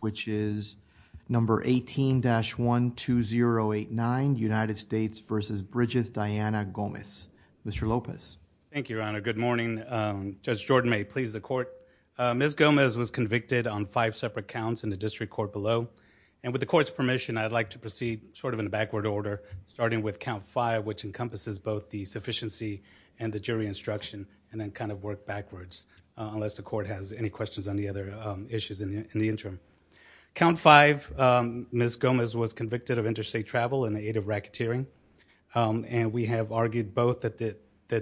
which is number 18-12089, United States v. Brigith Diana Gomez. Mr. Lopez. Thank you, Your Honor. Good morning. Judge Jordan, may it please the court. Ms. Gomez was convicted on five separate counts in the district court below and with the court's permission I'd like to proceed sort of in a backward order starting with count five which encompasses both the sufficiency and the jury instruction and then kind of work backwards unless the court has any questions on the other issues in the interim. Count five, Ms. Gomez was convicted of interstate travel in the aid of racketeering and we have argued both that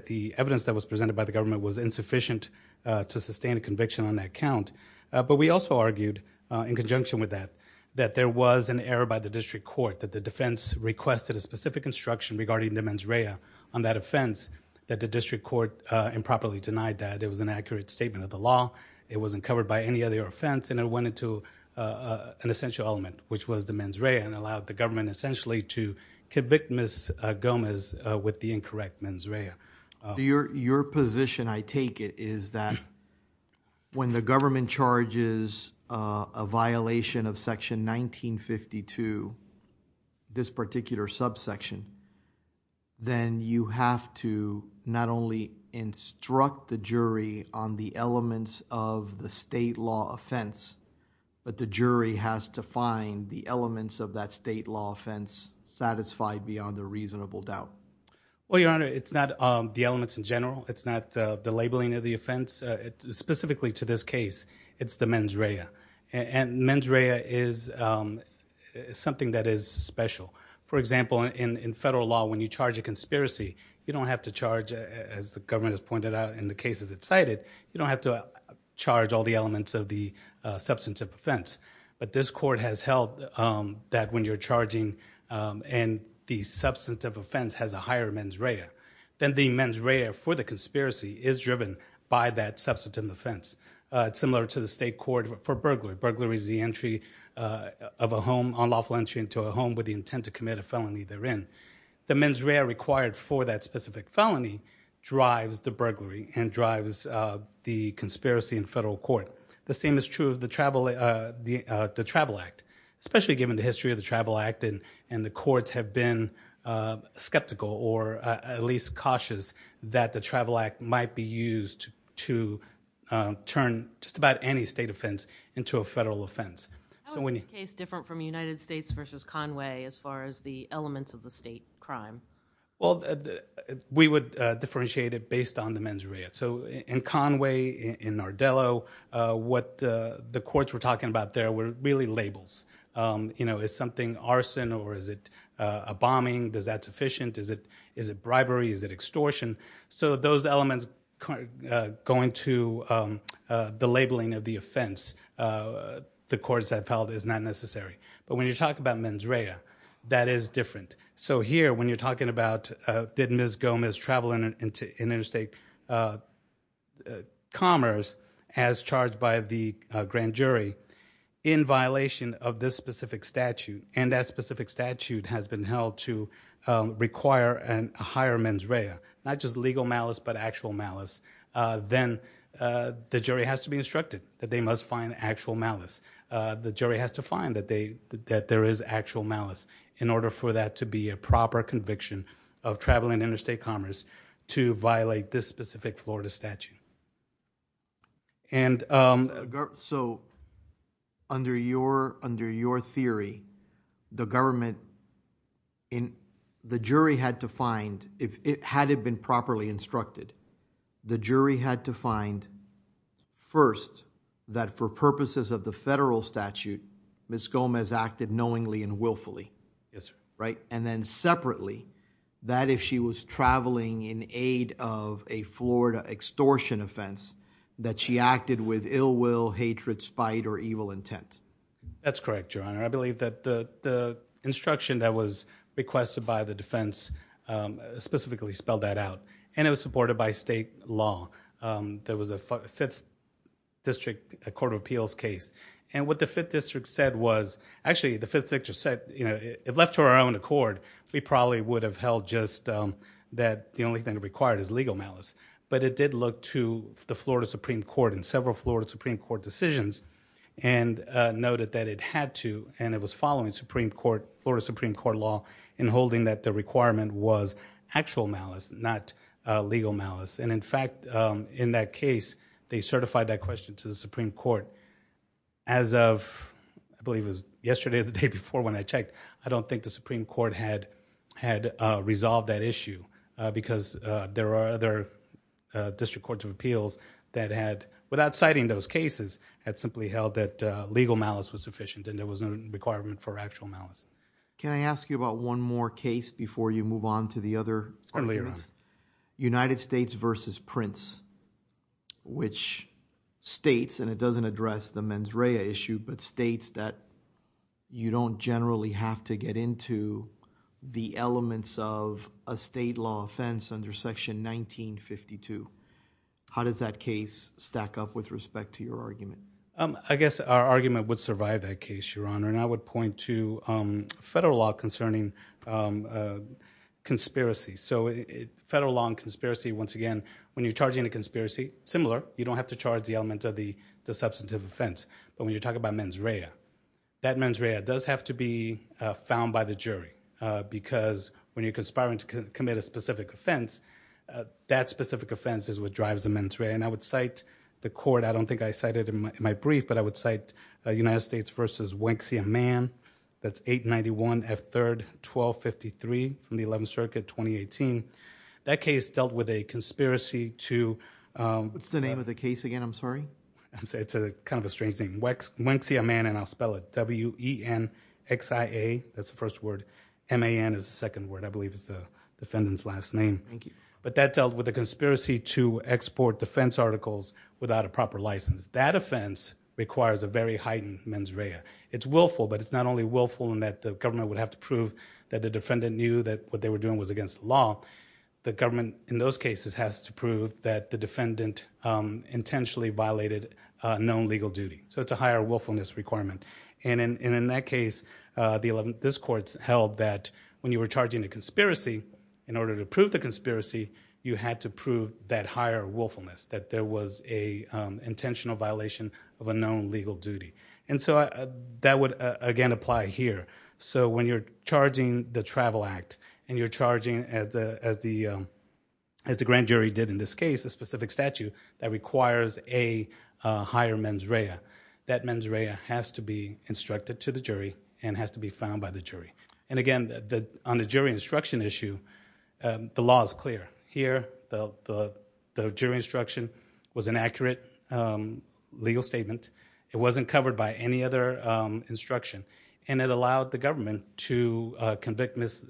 the evidence that was presented by the government was insufficient to sustain a conviction on that count but we also argued in conjunction with that that there was an error by the district court that the defense requested a specific instruction regarding the mens rea on that offense that the district court improperly denied that. It was an accurate statement of the law. It wasn't covered by any other offense and it went into an essential element which was the mens rea and allowed the government essentially to convict Ms. Gomez with the incorrect mens rea. Your position, I take it, is that when the government charges a violation of section 1952, this particular subsection, then you have to not only instruct the jury on the elements of the state law offense but the jury has to find the elements of that state law offense satisfied beyond a reasonable doubt. Well, your honor, it's not the elements in general. It's not the labeling of the offense. Specifically to this case, it's the mens rea and mens rea is something that is special. For example, in federal law, when you charge a conspiracy, you don't have to charge, as the government has pointed out in the cases it cited, you don't have to charge all the elements of the substantive offense but this court has held that when you're charging and the substantive offense has a higher mens rea, then the mens rea for the conspiracy is driven by that substantive offense. It's similar to the state court for burglary. Burglary is the entry of a home, unlawful entry into a home with the intent to commit a felony therein. The mens rea required for that specific felony drives the burglary and drives the conspiracy in federal court. The same is true of the Travel Act, especially given the history of the Travel Act and the courts have been skeptical or at least cautious that the federal offense. How is this case different from United States versus Conway as far as the elements of the state crime? Well, we would differentiate it based on the mens rea. So in Conway, in Nardello, what the courts were talking about there were really labels. You know, is something arson or is it a bombing? Is that sufficient? Is it bribery? Is it extortion? So those elements going to the defense, the courts have felt is not necessary. But when you talk about mens rea, that is different. So here, when you're talking about did Ms. Gomez travel into interstate commerce as charged by the grand jury in violation of this specific statute and that specific statute has been held to require a higher mens rea, not just legal malice but actual malice, then the jury has to be instructed that they must find actual malice. The jury has to find that there is actual malice in order for that to be a proper conviction of traveling interstate commerce to violate this specific Florida statute. So under your theory, the government, the jury had to find, had it been properly instructed, the jury had to find first that for purposes of the federal statute Ms. Gomez acted knowingly and willfully, right? And then separately that if she was traveling in aid of a Florida extortion offense that she acted with ill will, hatred, spite or evil intent. That's correct, Your Honor. I believe that the instruction that was requested by the defense specifically spelled that out and it was supported by state law. There was a 5th District Court of Appeals case and what the 5th District said was, actually the 5th District said, you know, it left to our own accord. We probably would have held just that the only thing required is legal malice. But it did look to the Florida Supreme Court and several Florida Supreme Court decisions and noted that it had to and it was following Supreme Court, Florida Supreme Court law in holding that the legal malice. And in fact, in that case, they certified that question to the Supreme Court. As of, I believe it was yesterday or the day before when I checked, I don't think the Supreme Court had had resolved that issue because there are other District Courts of Appeals that had, without citing those cases, had simply held that legal malice was sufficient and there was no requirement for actual malice. Can I ask you about one more case before you move on to the other? Certainly, Your Honor. United States v. Prince, which states, and it doesn't address the mens rea issue, but states that you don't generally have to get into the elements of a state law offense under Section 1952. How does that case stack up with respect to your argument? I guess our argument would survive that case, Your Honor, and I would point to federal law concerning conspiracy. So federal law and conspiracy, once again, when you're charging a conspiracy, similar, you don't have to charge the element of the substantive offense. But when you're talking about mens rea, that mens rea does have to be found by the jury because when you're conspiring to commit a specific offense, that specific offense is what drives the mens rea. And I would cite the court, I don't think I cited it in my brief, but I would cite United States v. Wanksia Mann, that's 891 F3rd 1253 from the 11th Circuit, 2018. That case dealt with a conspiracy to... What's the name of the case again, I'm sorry? It's a kind of a strange name. Wanksia Mann, and I'll spell it, W-E-N-X-I-A, that's the first word. M-A-N is the second word, I believe is the defendant's last name. Thank you. But that dealt with a conspiracy to export defense articles without a proper license. That offense requires a very heightened mens rea. It's willful, but it's not only willful in that the government would have to prove that the defendant knew that what they were doing was against the law. The government in those cases has to prove that the defendant intentionally violated known legal duty. So it's a higher willfulness requirement. And in that case, this court held that when you were charging a conspiracy, in order to prove the conspiracy, you had to charge a criminal violation of a known legal duty. And so that would, again, apply here. So when you're charging the Travel Act, and you're charging, as the grand jury did in this case, a specific statute that requires a higher mens rea, that mens rea has to be instructed to the jury and has to be found by the jury. And again, on the jury instruction issue, the law is clear. Here, the jury instruction was inaccurate. It wasn't covered by any other instruction. And it allowed the government to convict Ms.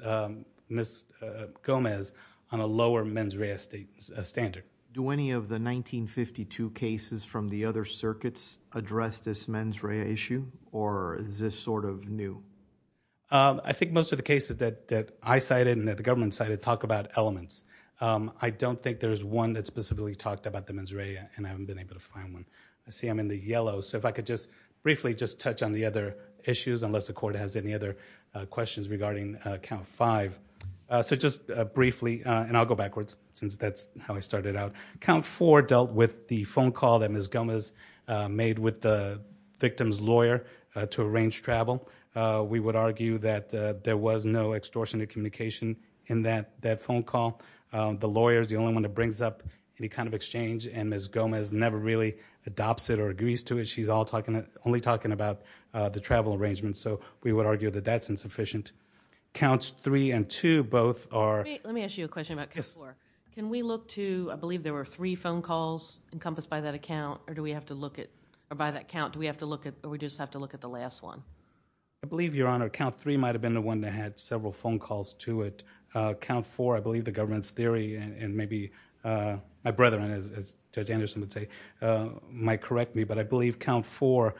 Gomez on a lower mens rea standard. Do any of the 1952 cases from the other circuits address this mens rea issue? Or is this sort of new? I think most of the cases that I cited and that the government cited talk about elements. I don't think there's one that specifically talked about the mens rea, and I haven't been able to find one. I see them in the yellow. So if I could just briefly just touch on the other issues, unless the court has any other questions regarding Count 5. So just briefly, and I'll go backwards, since that's how I started out. Count 4 dealt with the phone call that Ms. Gomez made with the victim's lawyer to arrange travel. We would argue that there was no extortionate communication in that phone call. The lawyer is the only one that brings up any kind of exchange, and Ms. Gomez never really adopts it or agrees to it. She's only talking about the travel arrangement. So we would argue that that's insufficient. Counts 3 and 2 both are... Let me ask you a question about Count 4. Can we look to, I believe there were three phone calls encompassed by that account, or do we have to look at, or by that count, do we have to look at, or do we just have to look at the last one? I believe, Your Honor, Count 3 might have been the one that had several phone calls to it. Count 4, I believe the government's theory, and maybe my brethren, as Judge Anderson would say, might correct me, but I believe Count 4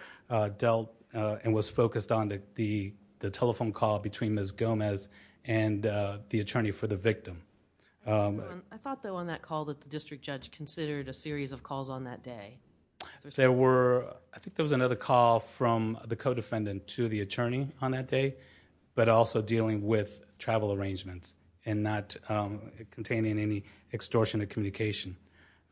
dealt and was focused on the telephone call between Ms. Gomez and the attorney for the victim. I thought, though, on that call that the district judge considered a series of calls on that day. I think there was another call from the co-defendant to the attorney on that day, but also dealing with travel arrangements and not containing any extortionate communication.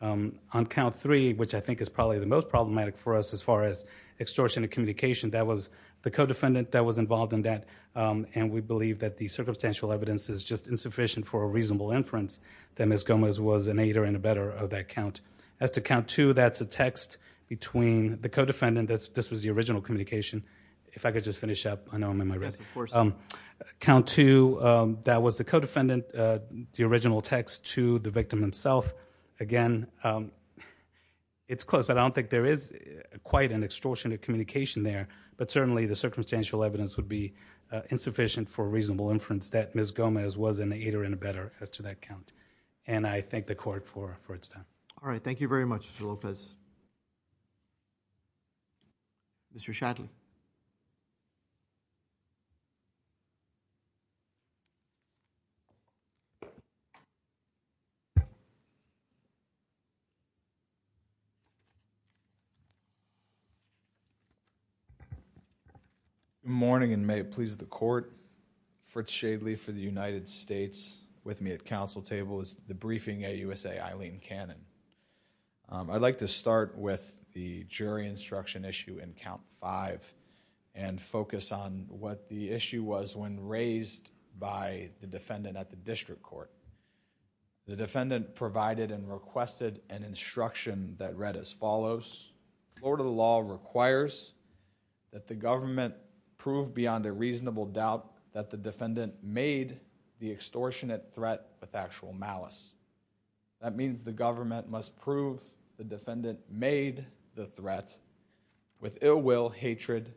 On Count 3, which I think is probably the most problematic for us as far as extortionate communication, that was the co-defendant that was involved in that, and we believe that the circumstantial evidence is just insufficient for a reasonable inference that Ms. Gomez was an aider and abetter of that count. As to Count 2, that's a text between the co-defendant. This was the original communication. If I could just finish up, I know I'm in my right. Count 2, that was the co-defendant, the original text to the victim himself. Again, it's close, but I don't think there is quite an extortionate communication there, but certainly the circumstantial evidence would be insufficient for a reasonable inference that Ms. Gomez was an aider and abetter as to that count. I thank the Court for its time. All right. Thank you very much, Mr. Lopez. Mr. Shadley. Good morning, and may it please the Court, Fritz Shadley for the United I'd like to start with the jury instruction issue in Count 5 and focus on what the issue was when raised by the defendant at the district court. The defendant provided and requested an instruction that read as follows, Florida law requires that the government prove beyond a reasonable doubt that the defendant made the extortionate threat with actual malice. That means the government must prove the defendant made the threat with ill will, hatred,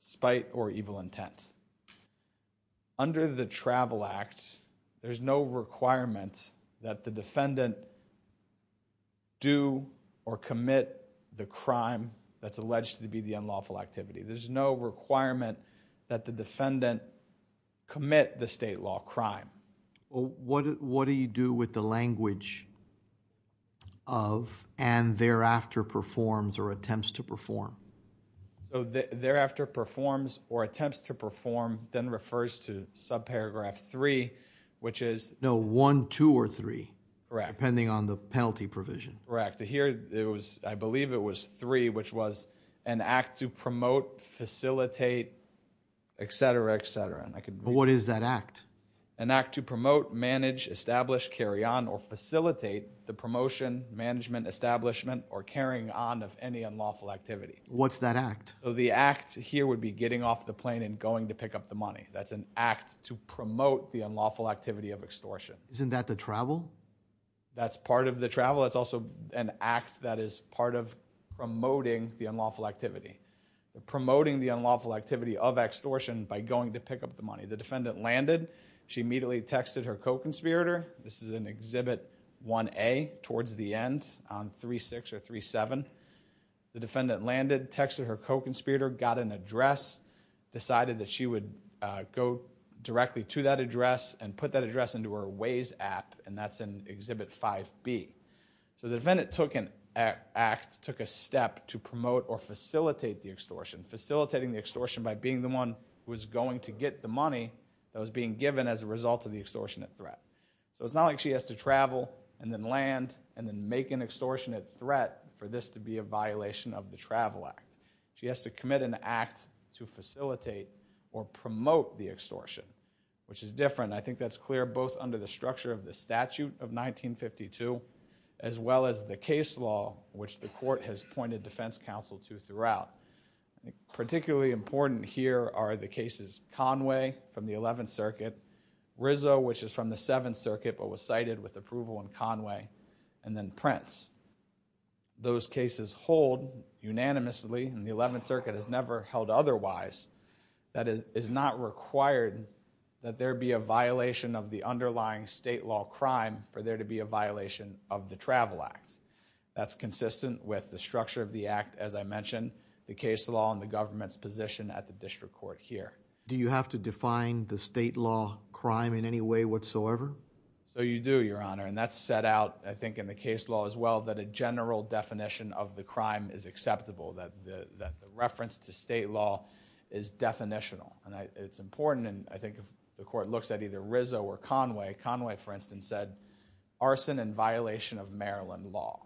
spite, or evil intent. Under the Travel Act, there's no requirement that the defendant do or commit the crime that's alleged to be the unlawful activity. There's no requirement that the defendant commit the state law crime. What do you do with the language of and thereafter performs or attempts to perform? So thereafter performs or attempts to perform then refers to subparagraph 3, which is... No, 1, 2, or 3. Correct. Depending on the penalty provision. Correct. Here it was, I believe it was 3, which was an act to promote, facilitate, etc., etc. What is that act? An act to promote, manage, establish, carry on, or facilitate the promotion, management, establishment, or carrying on of any unlawful activity. What's that act? The act here would be getting off the plane and going to pick up the money. That's an act to promote the unlawful activity of extortion. Isn't that the travel? That's part of the travel. It's also an act that is part of promoting the unlawful activity. Promoting the unlawful activity of extortion by going to pick up the money. The defendant landed. She immediately texted her co-conspirator. This is in Exhibit 1A towards the end on 3-6 or 3-7. The defendant landed, texted her co-conspirator, got an address, decided that she would go directly to that address, and put that address into her Waze app, and that's in Exhibit 5B. So the defendant took an act, took a step to promote or facilitate the extortion. Facilitating the extortion by being the one who is going to get the money that was being given as a result of the extortionate threat. So it's not like she has to travel, and then land, and then make an extortionate threat for this to be a violation of the Travel Act. She has to commit an act to facilitate or promote the extortion, which is different. I think that's clear both under the structure of the statute of 1952, as well as the case law, which the court has particularly important here are the cases Conway from the 11th Circuit, Rizzo, which is from the 7th Circuit, but was cited with approval in Conway, and then Prince. Those cases hold unanimously, and the 11th Circuit has never held otherwise, that it is not required that there be a violation of the underlying state law crime for there to be a violation of the Travel Act. That's consistent with the structure of the act, as I mentioned, the case law and the government's position at the District Court here. Do you have to define the state law crime in any way whatsoever? So you do, Your Honor, and that's set out, I think, in the case law as well, that a general definition of the crime is acceptable. That the reference to state law is definitional, and it's important, and I think if the court looks at either Rizzo or Conway, Conway, for instance, said arson and violation of Maryland law.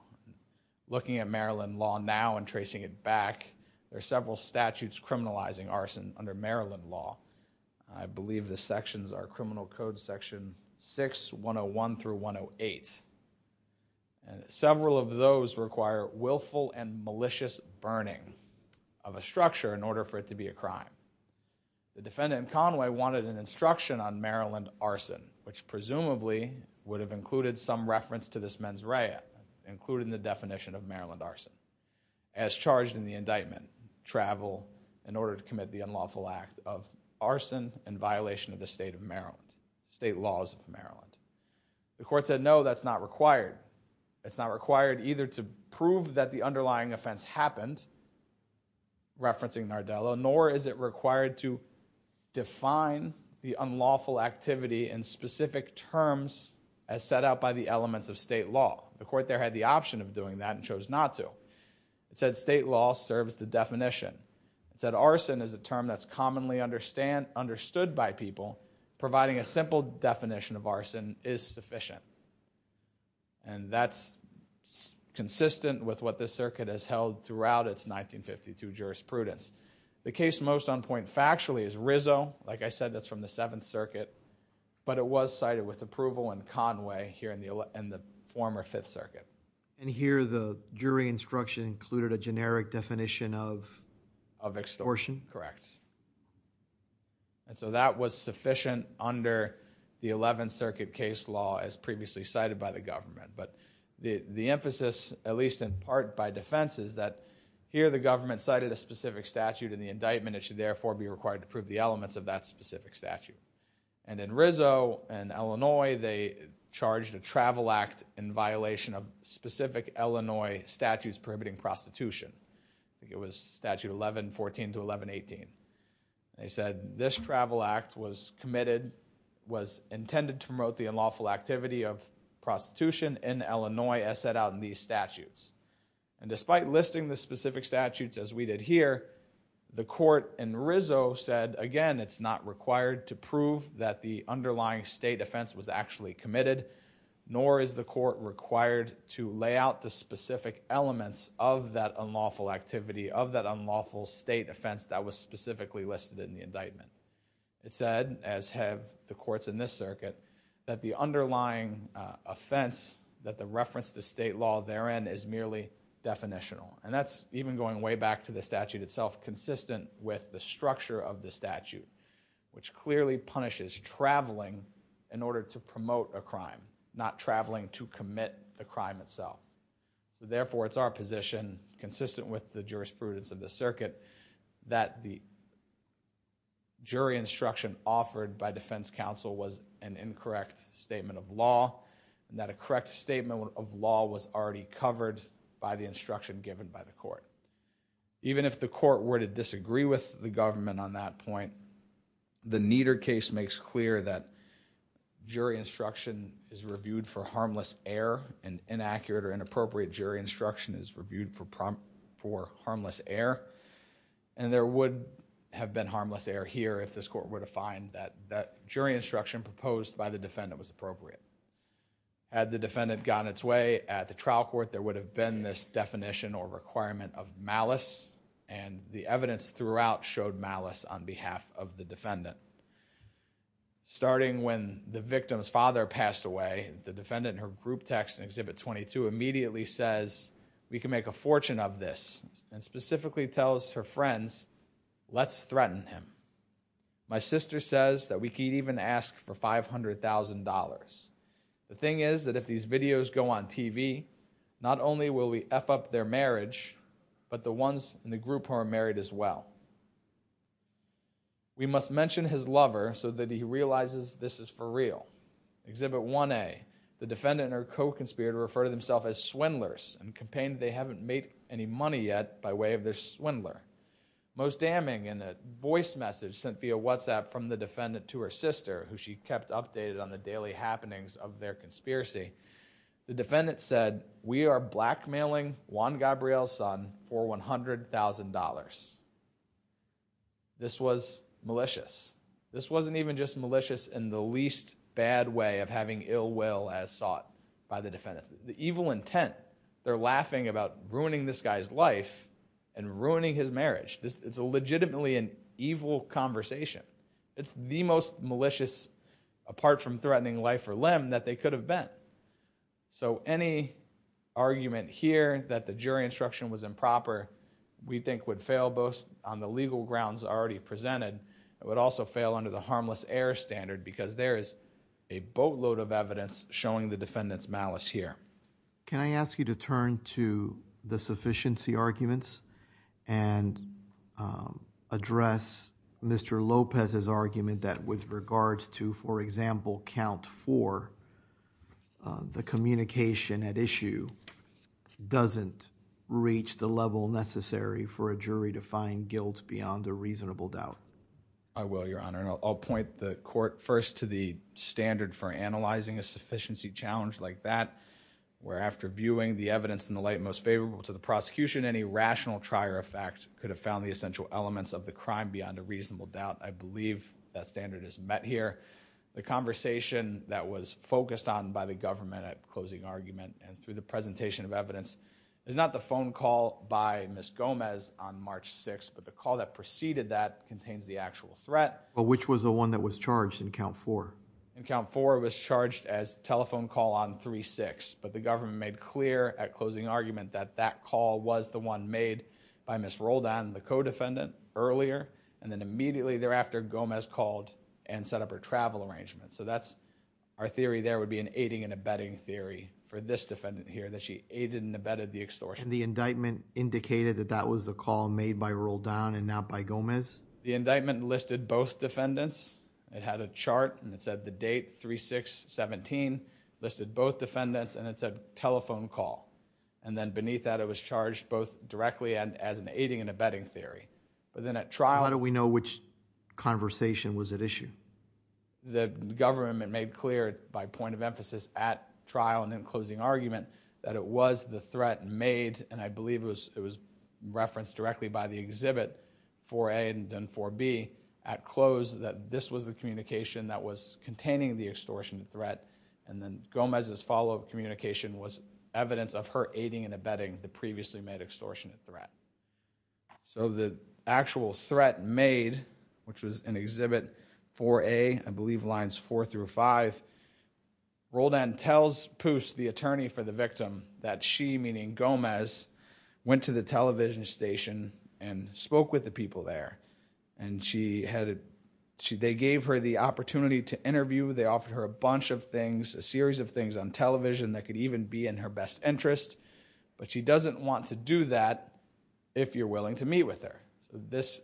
Looking at Maryland law now and tracing it back, there are several statutes criminalizing arson under Maryland law. I believe the sections are Criminal Code section 6, 101 through 108, and several of those require willful and malicious burning of a structure in order for it to be a crime. The defendant, Conway, wanted an instruction on Maryland arson, which presumably would have included some reference to this arson. As charged in the indictment, travel in order to commit the unlawful act of arson and violation of the state of Maryland, state laws of Maryland. The court said no, that's not required. It's not required either to prove that the underlying offense happened, referencing Nardello, nor is it required to define the unlawful activity in specific terms as set out by the elements of state law. The court there had the option of doing that and chose not to. It said state law serves the definition. It said arson is a term that's commonly understood by people, providing a simple definition of arson is sufficient. And that's consistent with what this circuit has held throughout its 1952 jurisprudence. The case most on point factually is Rizzo, like I said that's from the Seventh Circuit, but it was cited with approval in Conway here in the former Fifth Circuit. And here the jury instruction included a generic definition of extortion? Correct. And so that was sufficient under the Eleventh Circuit case law as previously cited by the government. But the emphasis, at least in part by defense, is that here the government cited a specific statute in the indictment. It should therefore be required to prove the elements of that specific statute. And in Rizzo and Illinois they charged a travel act in violation of specific Illinois statutes prohibiting prostitution. I think it was statute 1114 to 1118. They said this travel act was committed, was intended to promote the unlawful activity of prostitution in Illinois as set out in these statutes. And despite listing the specific statutes as we did here, the court in Rizzo said again it's not required to nor is the court required to lay out the specific elements of that unlawful activity of that unlawful state offense that was specifically listed in the indictment. It said, as have the courts in this circuit, that the underlying offense that the reference to state law therein is merely definitional. And that's even going way back to the statute itself, consistent with the structure of the statute, which clearly punishes traveling in order to promote a crime, not traveling to commit the crime itself. So therefore it's our position, consistent with the jurisprudence of the circuit, that the jury instruction offered by defense counsel was an incorrect statement of law, and that a correct statement of law was already covered by the instruction given by the court. Even if the court were to disagree with the government on that point, the Nieder case makes clear that jury instruction is reviewed for harmless error. An inaccurate or inappropriate jury instruction is reviewed for harmless error. And there would have been harmless error here if this court were to find that jury instruction proposed by the defendant was appropriate. Had the defendant gotten its way at the trial court, there would have been this definition or requirement of malice, and the evidence throughout showed malice on behalf of the defendant. Starting when the victim's father passed away, the defendant, in her group text in Exhibit 22, immediately says, we can make a fortune of this, and specifically tells her friends, let's threaten him. My sister says that we could even ask for $500,000. The thing is that if these videos go on TV, not only will we eff up their marriage, but the ones in the group who are married as well. We must mention his lover so that he realizes this is for real. Exhibit 1A, the defendant and her co-conspirator refer to themselves as swindlers, and complained they haven't made any money yet by way of their swindler. Most damning, in a voice message sent via WhatsApp from the defendant to her sister, who she kept updated on the daily happenings of their conspiracy, the $500,000. This was malicious. This wasn't even just malicious in the least bad way of having ill will as sought by the defendant. The evil intent, they're laughing about ruining this guy's life and ruining his marriage. This is legitimately an evil conversation. It's the most malicious, apart from threatening life or limb, that they could have been. So any argument here that the fail boast on the legal grounds already presented, it would also fail under the harmless error standard, because there is a boatload of evidence showing the defendant's malice here. Can I ask you to turn to the sufficiency arguments and address Mr. Lopez's argument that with regards to, for example, count four, the communication at issue doesn't reach the level necessary for a jury to find guilt beyond a reasonable doubt? I will, Your Honor, and I'll point the court first to the standard for analyzing a sufficiency challenge like that, where after viewing the evidence in the light most favorable to the prosecution, any rational trier effect could have found the essential elements of the crime beyond a reasonable doubt. I believe that standard is met here. The conversation that was focused on by the government at closing argument and through the presentation of evidence is not the phone call by Ms. Gomez on March 6th, but the call that preceded that contains the actual threat. But which was the one that was charged in count four? In count four, it was charged as telephone call on 3-6, but the government made clear at closing argument that that call was the one made by Ms. Roldan, the co-defendant, earlier, and then immediately thereafter Gomez called and set up her travel arrangement. So that's, our theory there would be an aiding and abetting theory for this defendant here, that she aided and abetted the extortion. And the indictment indicated that that was the call made by Roldan and not by Gomez? The indictment listed both defendants. It had a chart and it said the date 3-6-17, listed both defendants, and it said telephone call. And then beneath that it was charged both directly and as an we know which conversation was at issue? The government made clear, by point of emphasis, at trial and in closing argument, that it was the threat made, and I believe it was referenced directly by the exhibit, 4A and then 4B, at close, that this was the communication that was containing the extortionate threat. And then Gomez's follow-up communication was evidence of her aiding and abetting the previously made extortionate threat. So the actual threat made, which was an exhibit 4A, I believe lines 4 through 5, Roldan tells Pust, the attorney for the victim, that she, meaning Gomez, went to the television station and spoke with the people there. And she had, they gave her the opportunity to interview, they offered her a bunch of things, a series of things on television that could even be in her best interest, but she doesn't want to do that if you're willing to meet with her. So this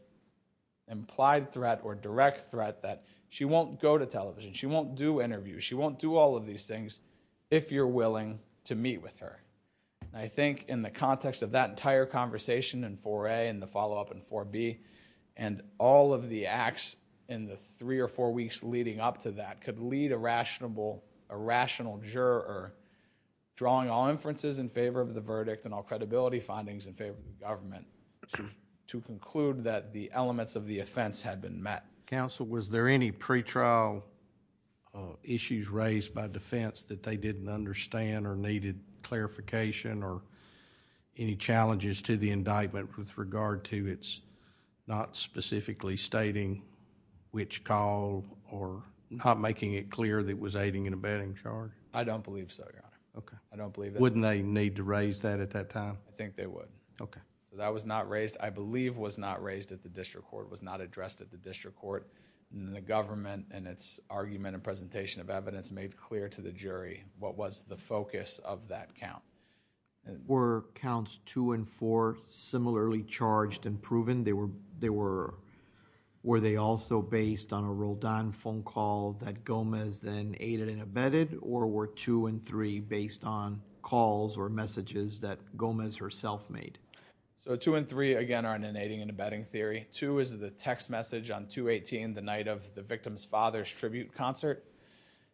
implied threat or direct threat that she won't go to television, she won't do interviews, she won't do all of these things if you're willing to meet with her. I think in the context of that entire conversation in 4A and the follow-up in 4B and all of the acts in the three or four weeks leading up to that could lead a rational juror drawing all inferences in favor of the verdict and all credibility findings in favor of the government to conclude that the elements of the offense had been met. Counsel, was there any pretrial issues raised by defense that they didn't understand or needed clarification or any challenges to the indictment with regard to its not specifically stating which call or not making it clear that it was aiding and abetting charge? I don't believe so, Your Honor. Okay. I don't think they would. Okay. So that was not raised, I believe was not raised at the district court, was not addressed at the district court. The government and its argument and presentation of evidence made clear to the jury what was the focus of that count. Were counts two and four similarly charged and proven? Were they also based on a Roldan phone call that Gomez then aided and abetted or were two and three based on calls or messages that Gomez herself made? So two and three again are an aiding and abetting theory. Two is the text message on 218 the night of the victim's father's tribute concert.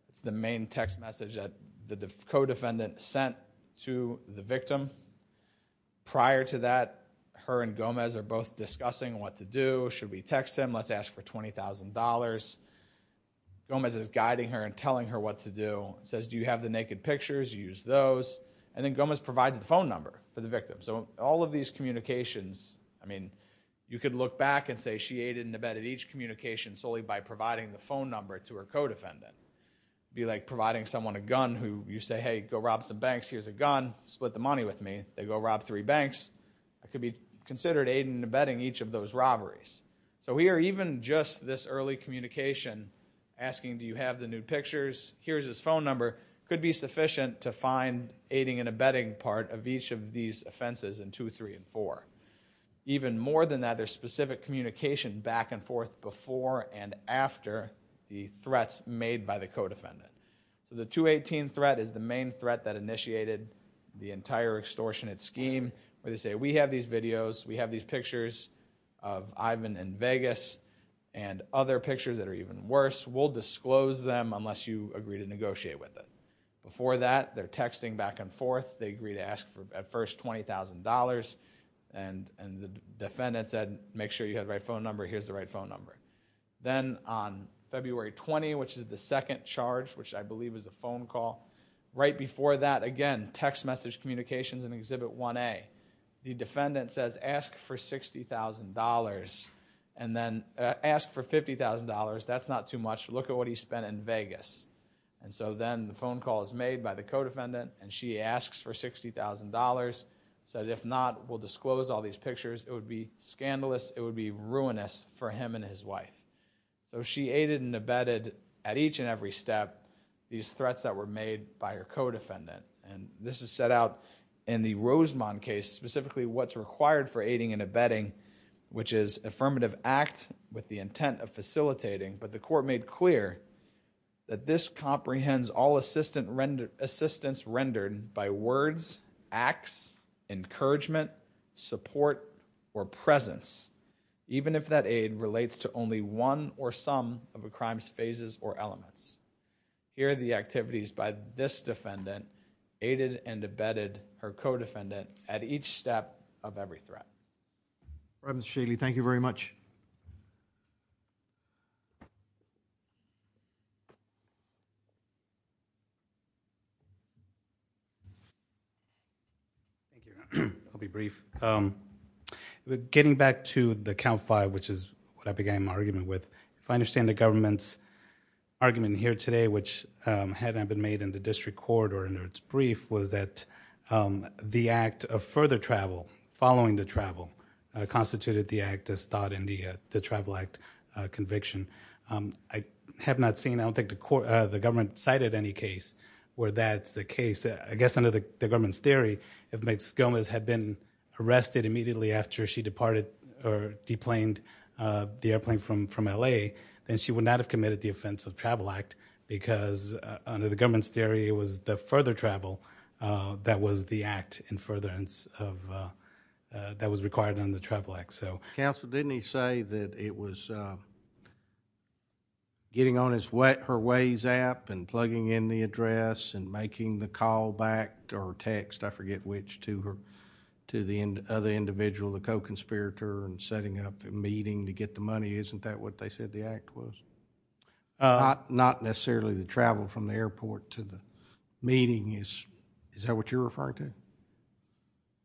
It's the main text message that the co-defendant sent to the victim. Prior to that, her and Gomez are both discussing what to do. Should we text him? Let's ask for $20,000. Gomez is guiding her and telling her what to do. Says, do you have the naked pictures? Use those. And then Gomez provides the phone number for the victim. So all of these communications, I mean, you could look back and say she aided and abetted each communication solely by providing the phone number to her co-defendant. Be like providing someone a gun who you say, hey, go rob some banks. Here's a gun. Split the money with me. They go rob three banks. That could be considered aiding and abetting each of those robberies. So here even just this early communication asking, do you have the nude pictures? Here's his phone number. Could be sufficient to find aiding and abetting part of each of these offenses in two, three, and four. Even more than that, there's specific communication back and forth before and after the threats made by the co-defendant. So the 218 threat is the main threat that initiated the entire extortionate scheme where they say, we have these videos, we have these videos from Vegas and other pictures that are even worse. We'll disclose them unless you agree to negotiate with them. Before that, they're texting back and forth. They agree to ask for at first $20,000 and the defendant said, make sure you have the right phone number. Here's the right phone number. Then on February 20, which is the second charge, which I believe is a phone call. Right before that, again, text message communications in Exhibit 1A. The defendant then asked for $50,000. That's not too much. Look at what he spent in Vegas. So then the phone call is made by the co-defendant and she asks for $60,000. Said if not, we'll disclose all these pictures. It would be scandalous. It would be ruinous for him and his wife. So she aided and abetted at each and every step these threats that were made by her co-defendant. This is set out in the Rosemont case, specifically what's required for aiding and abetting, which is affirmative act with the intent of facilitating, but the court made clear that this comprehends all assistance rendered by words, acts, encouragement, support, or presence, even if that aid relates to only one or some of a crime's phases or elements. Here are the activities by this defendant. All right, Mr. Shealy, thank you very much. I'll be brief. Getting back to the count five, which is what I began my argument with, if I understand the government's argument here today, which had not been made in the district court or under its brief, was that the act of further travel, following the travel, constituted the act as thought in the travel act conviction. I have not seen, I don't think the government cited any case where that's the case. I guess under the government's theory, if Ms. Gomez had been arrested immediately after she departed or deplaned the airplane from LA, then she would not have committed the offense of travel act, because under the government's theory, it was the further travel that was the act in furtherance of, that was required under the travel act. Counsel, didn't he say that it was getting on her Waze app and plugging in the address and making the call back or text, I forget which, to the other individual, the co-conspirator, and setting up the meeting to get the money. Isn't that what they said the act was? Not necessarily the travel from the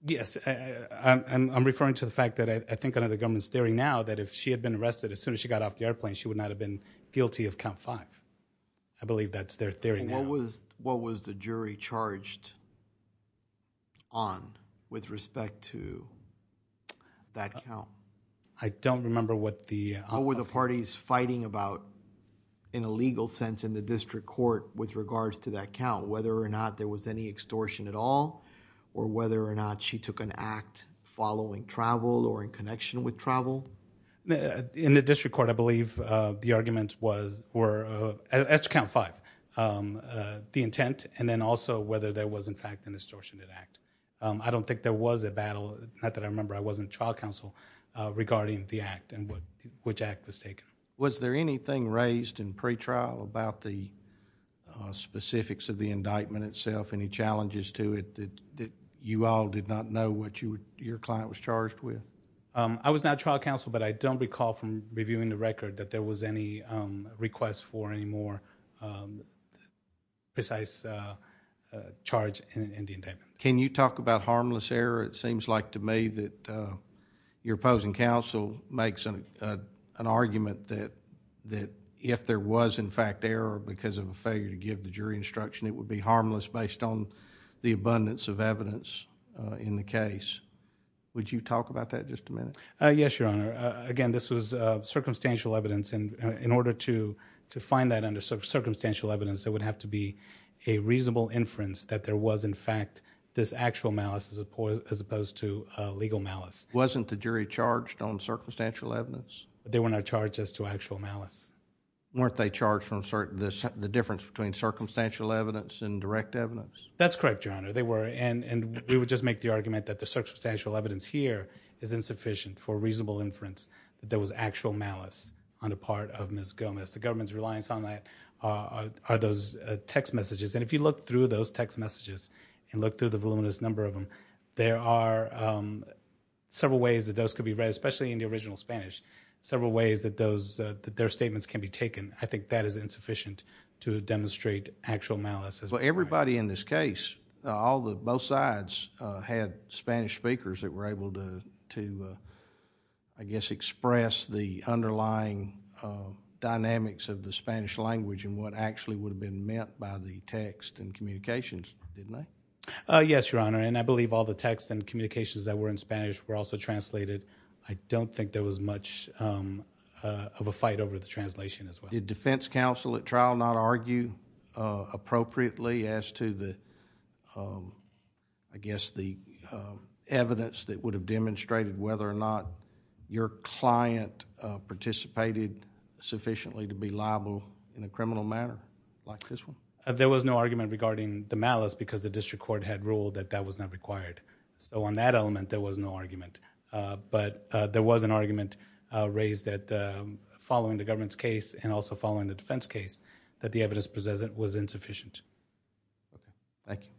Yes, I'm referring to the fact that I think under the government's theory now that if she had been arrested as soon as she got off the airplane, she would not have been guilty of count five. I believe that's their theory now. What was the jury charged on with respect to that count? I don't remember what the... What were the parties fighting about in a legal sense in the district court with regards to that count, whether or not she took an act following travel or in connection with travel? In the district court, I believe the arguments were, as to count five, the intent and then also whether there was in fact an extortionate act. I don't think there was a battle, not that I remember, I wasn't trial counsel, regarding the act and which act was taken. Was there anything raised in pretrial about the specifics of the I was not trial counsel, but I don't recall from reviewing the record that there was any request for any more precise charge in the indictment. Can you talk about harmless error? It seems like to me that your opposing counsel makes an argument that if there was in fact error because of a failure to give the jury instruction, it would be harmless based on the evidence in the case. Would you talk about that just a minute? Yes, Your Honor. Again, this was circumstantial evidence and in order to find that under circumstantial evidence, there would have to be a reasonable inference that there was in fact this actual malice as opposed to legal malice. Wasn't the jury charged on circumstantial evidence? They were not charged as to actual malice. Weren't they charged from the difference between circumstantial evidence and direct evidence? That's correct, Your Honor. They were and we would just make the argument that the circumstantial evidence here is insufficient for reasonable inference that there was actual malice on the part of Ms. Gomez. The government's reliance on that are those text messages and if you look through those text messages and look through the voluminous number of them, there are several ways that those could be read, especially in the original Spanish, several ways that their statements can be taken. I think that is insufficient to demonstrate actual malice. Everybody in this case, both sides had Spanish speakers that were able to, I guess, express the underlying dynamics of the Spanish language and what actually would have been meant by the text and communications, didn't they? Yes, Your Honor, and I believe all the text and communications that were in Spanish were also translated. I don't think there was much of a fight over the translation as well. Did defense counsel at trial not argue appropriately as to the, I guess, the evidence that would have demonstrated whether or not your client participated sufficiently to be liable in a criminal manner like this one? There was no argument regarding the malice because the district court had ruled that that was not required. On that element, there was no argument. There was an argument raised that following the government's case and also following the defense case, that the evidence presented was insufficient. Okay. Thank you.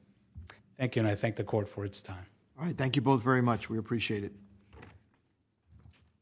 Thank you. I thank the court for its time. All right. Thank you both very much.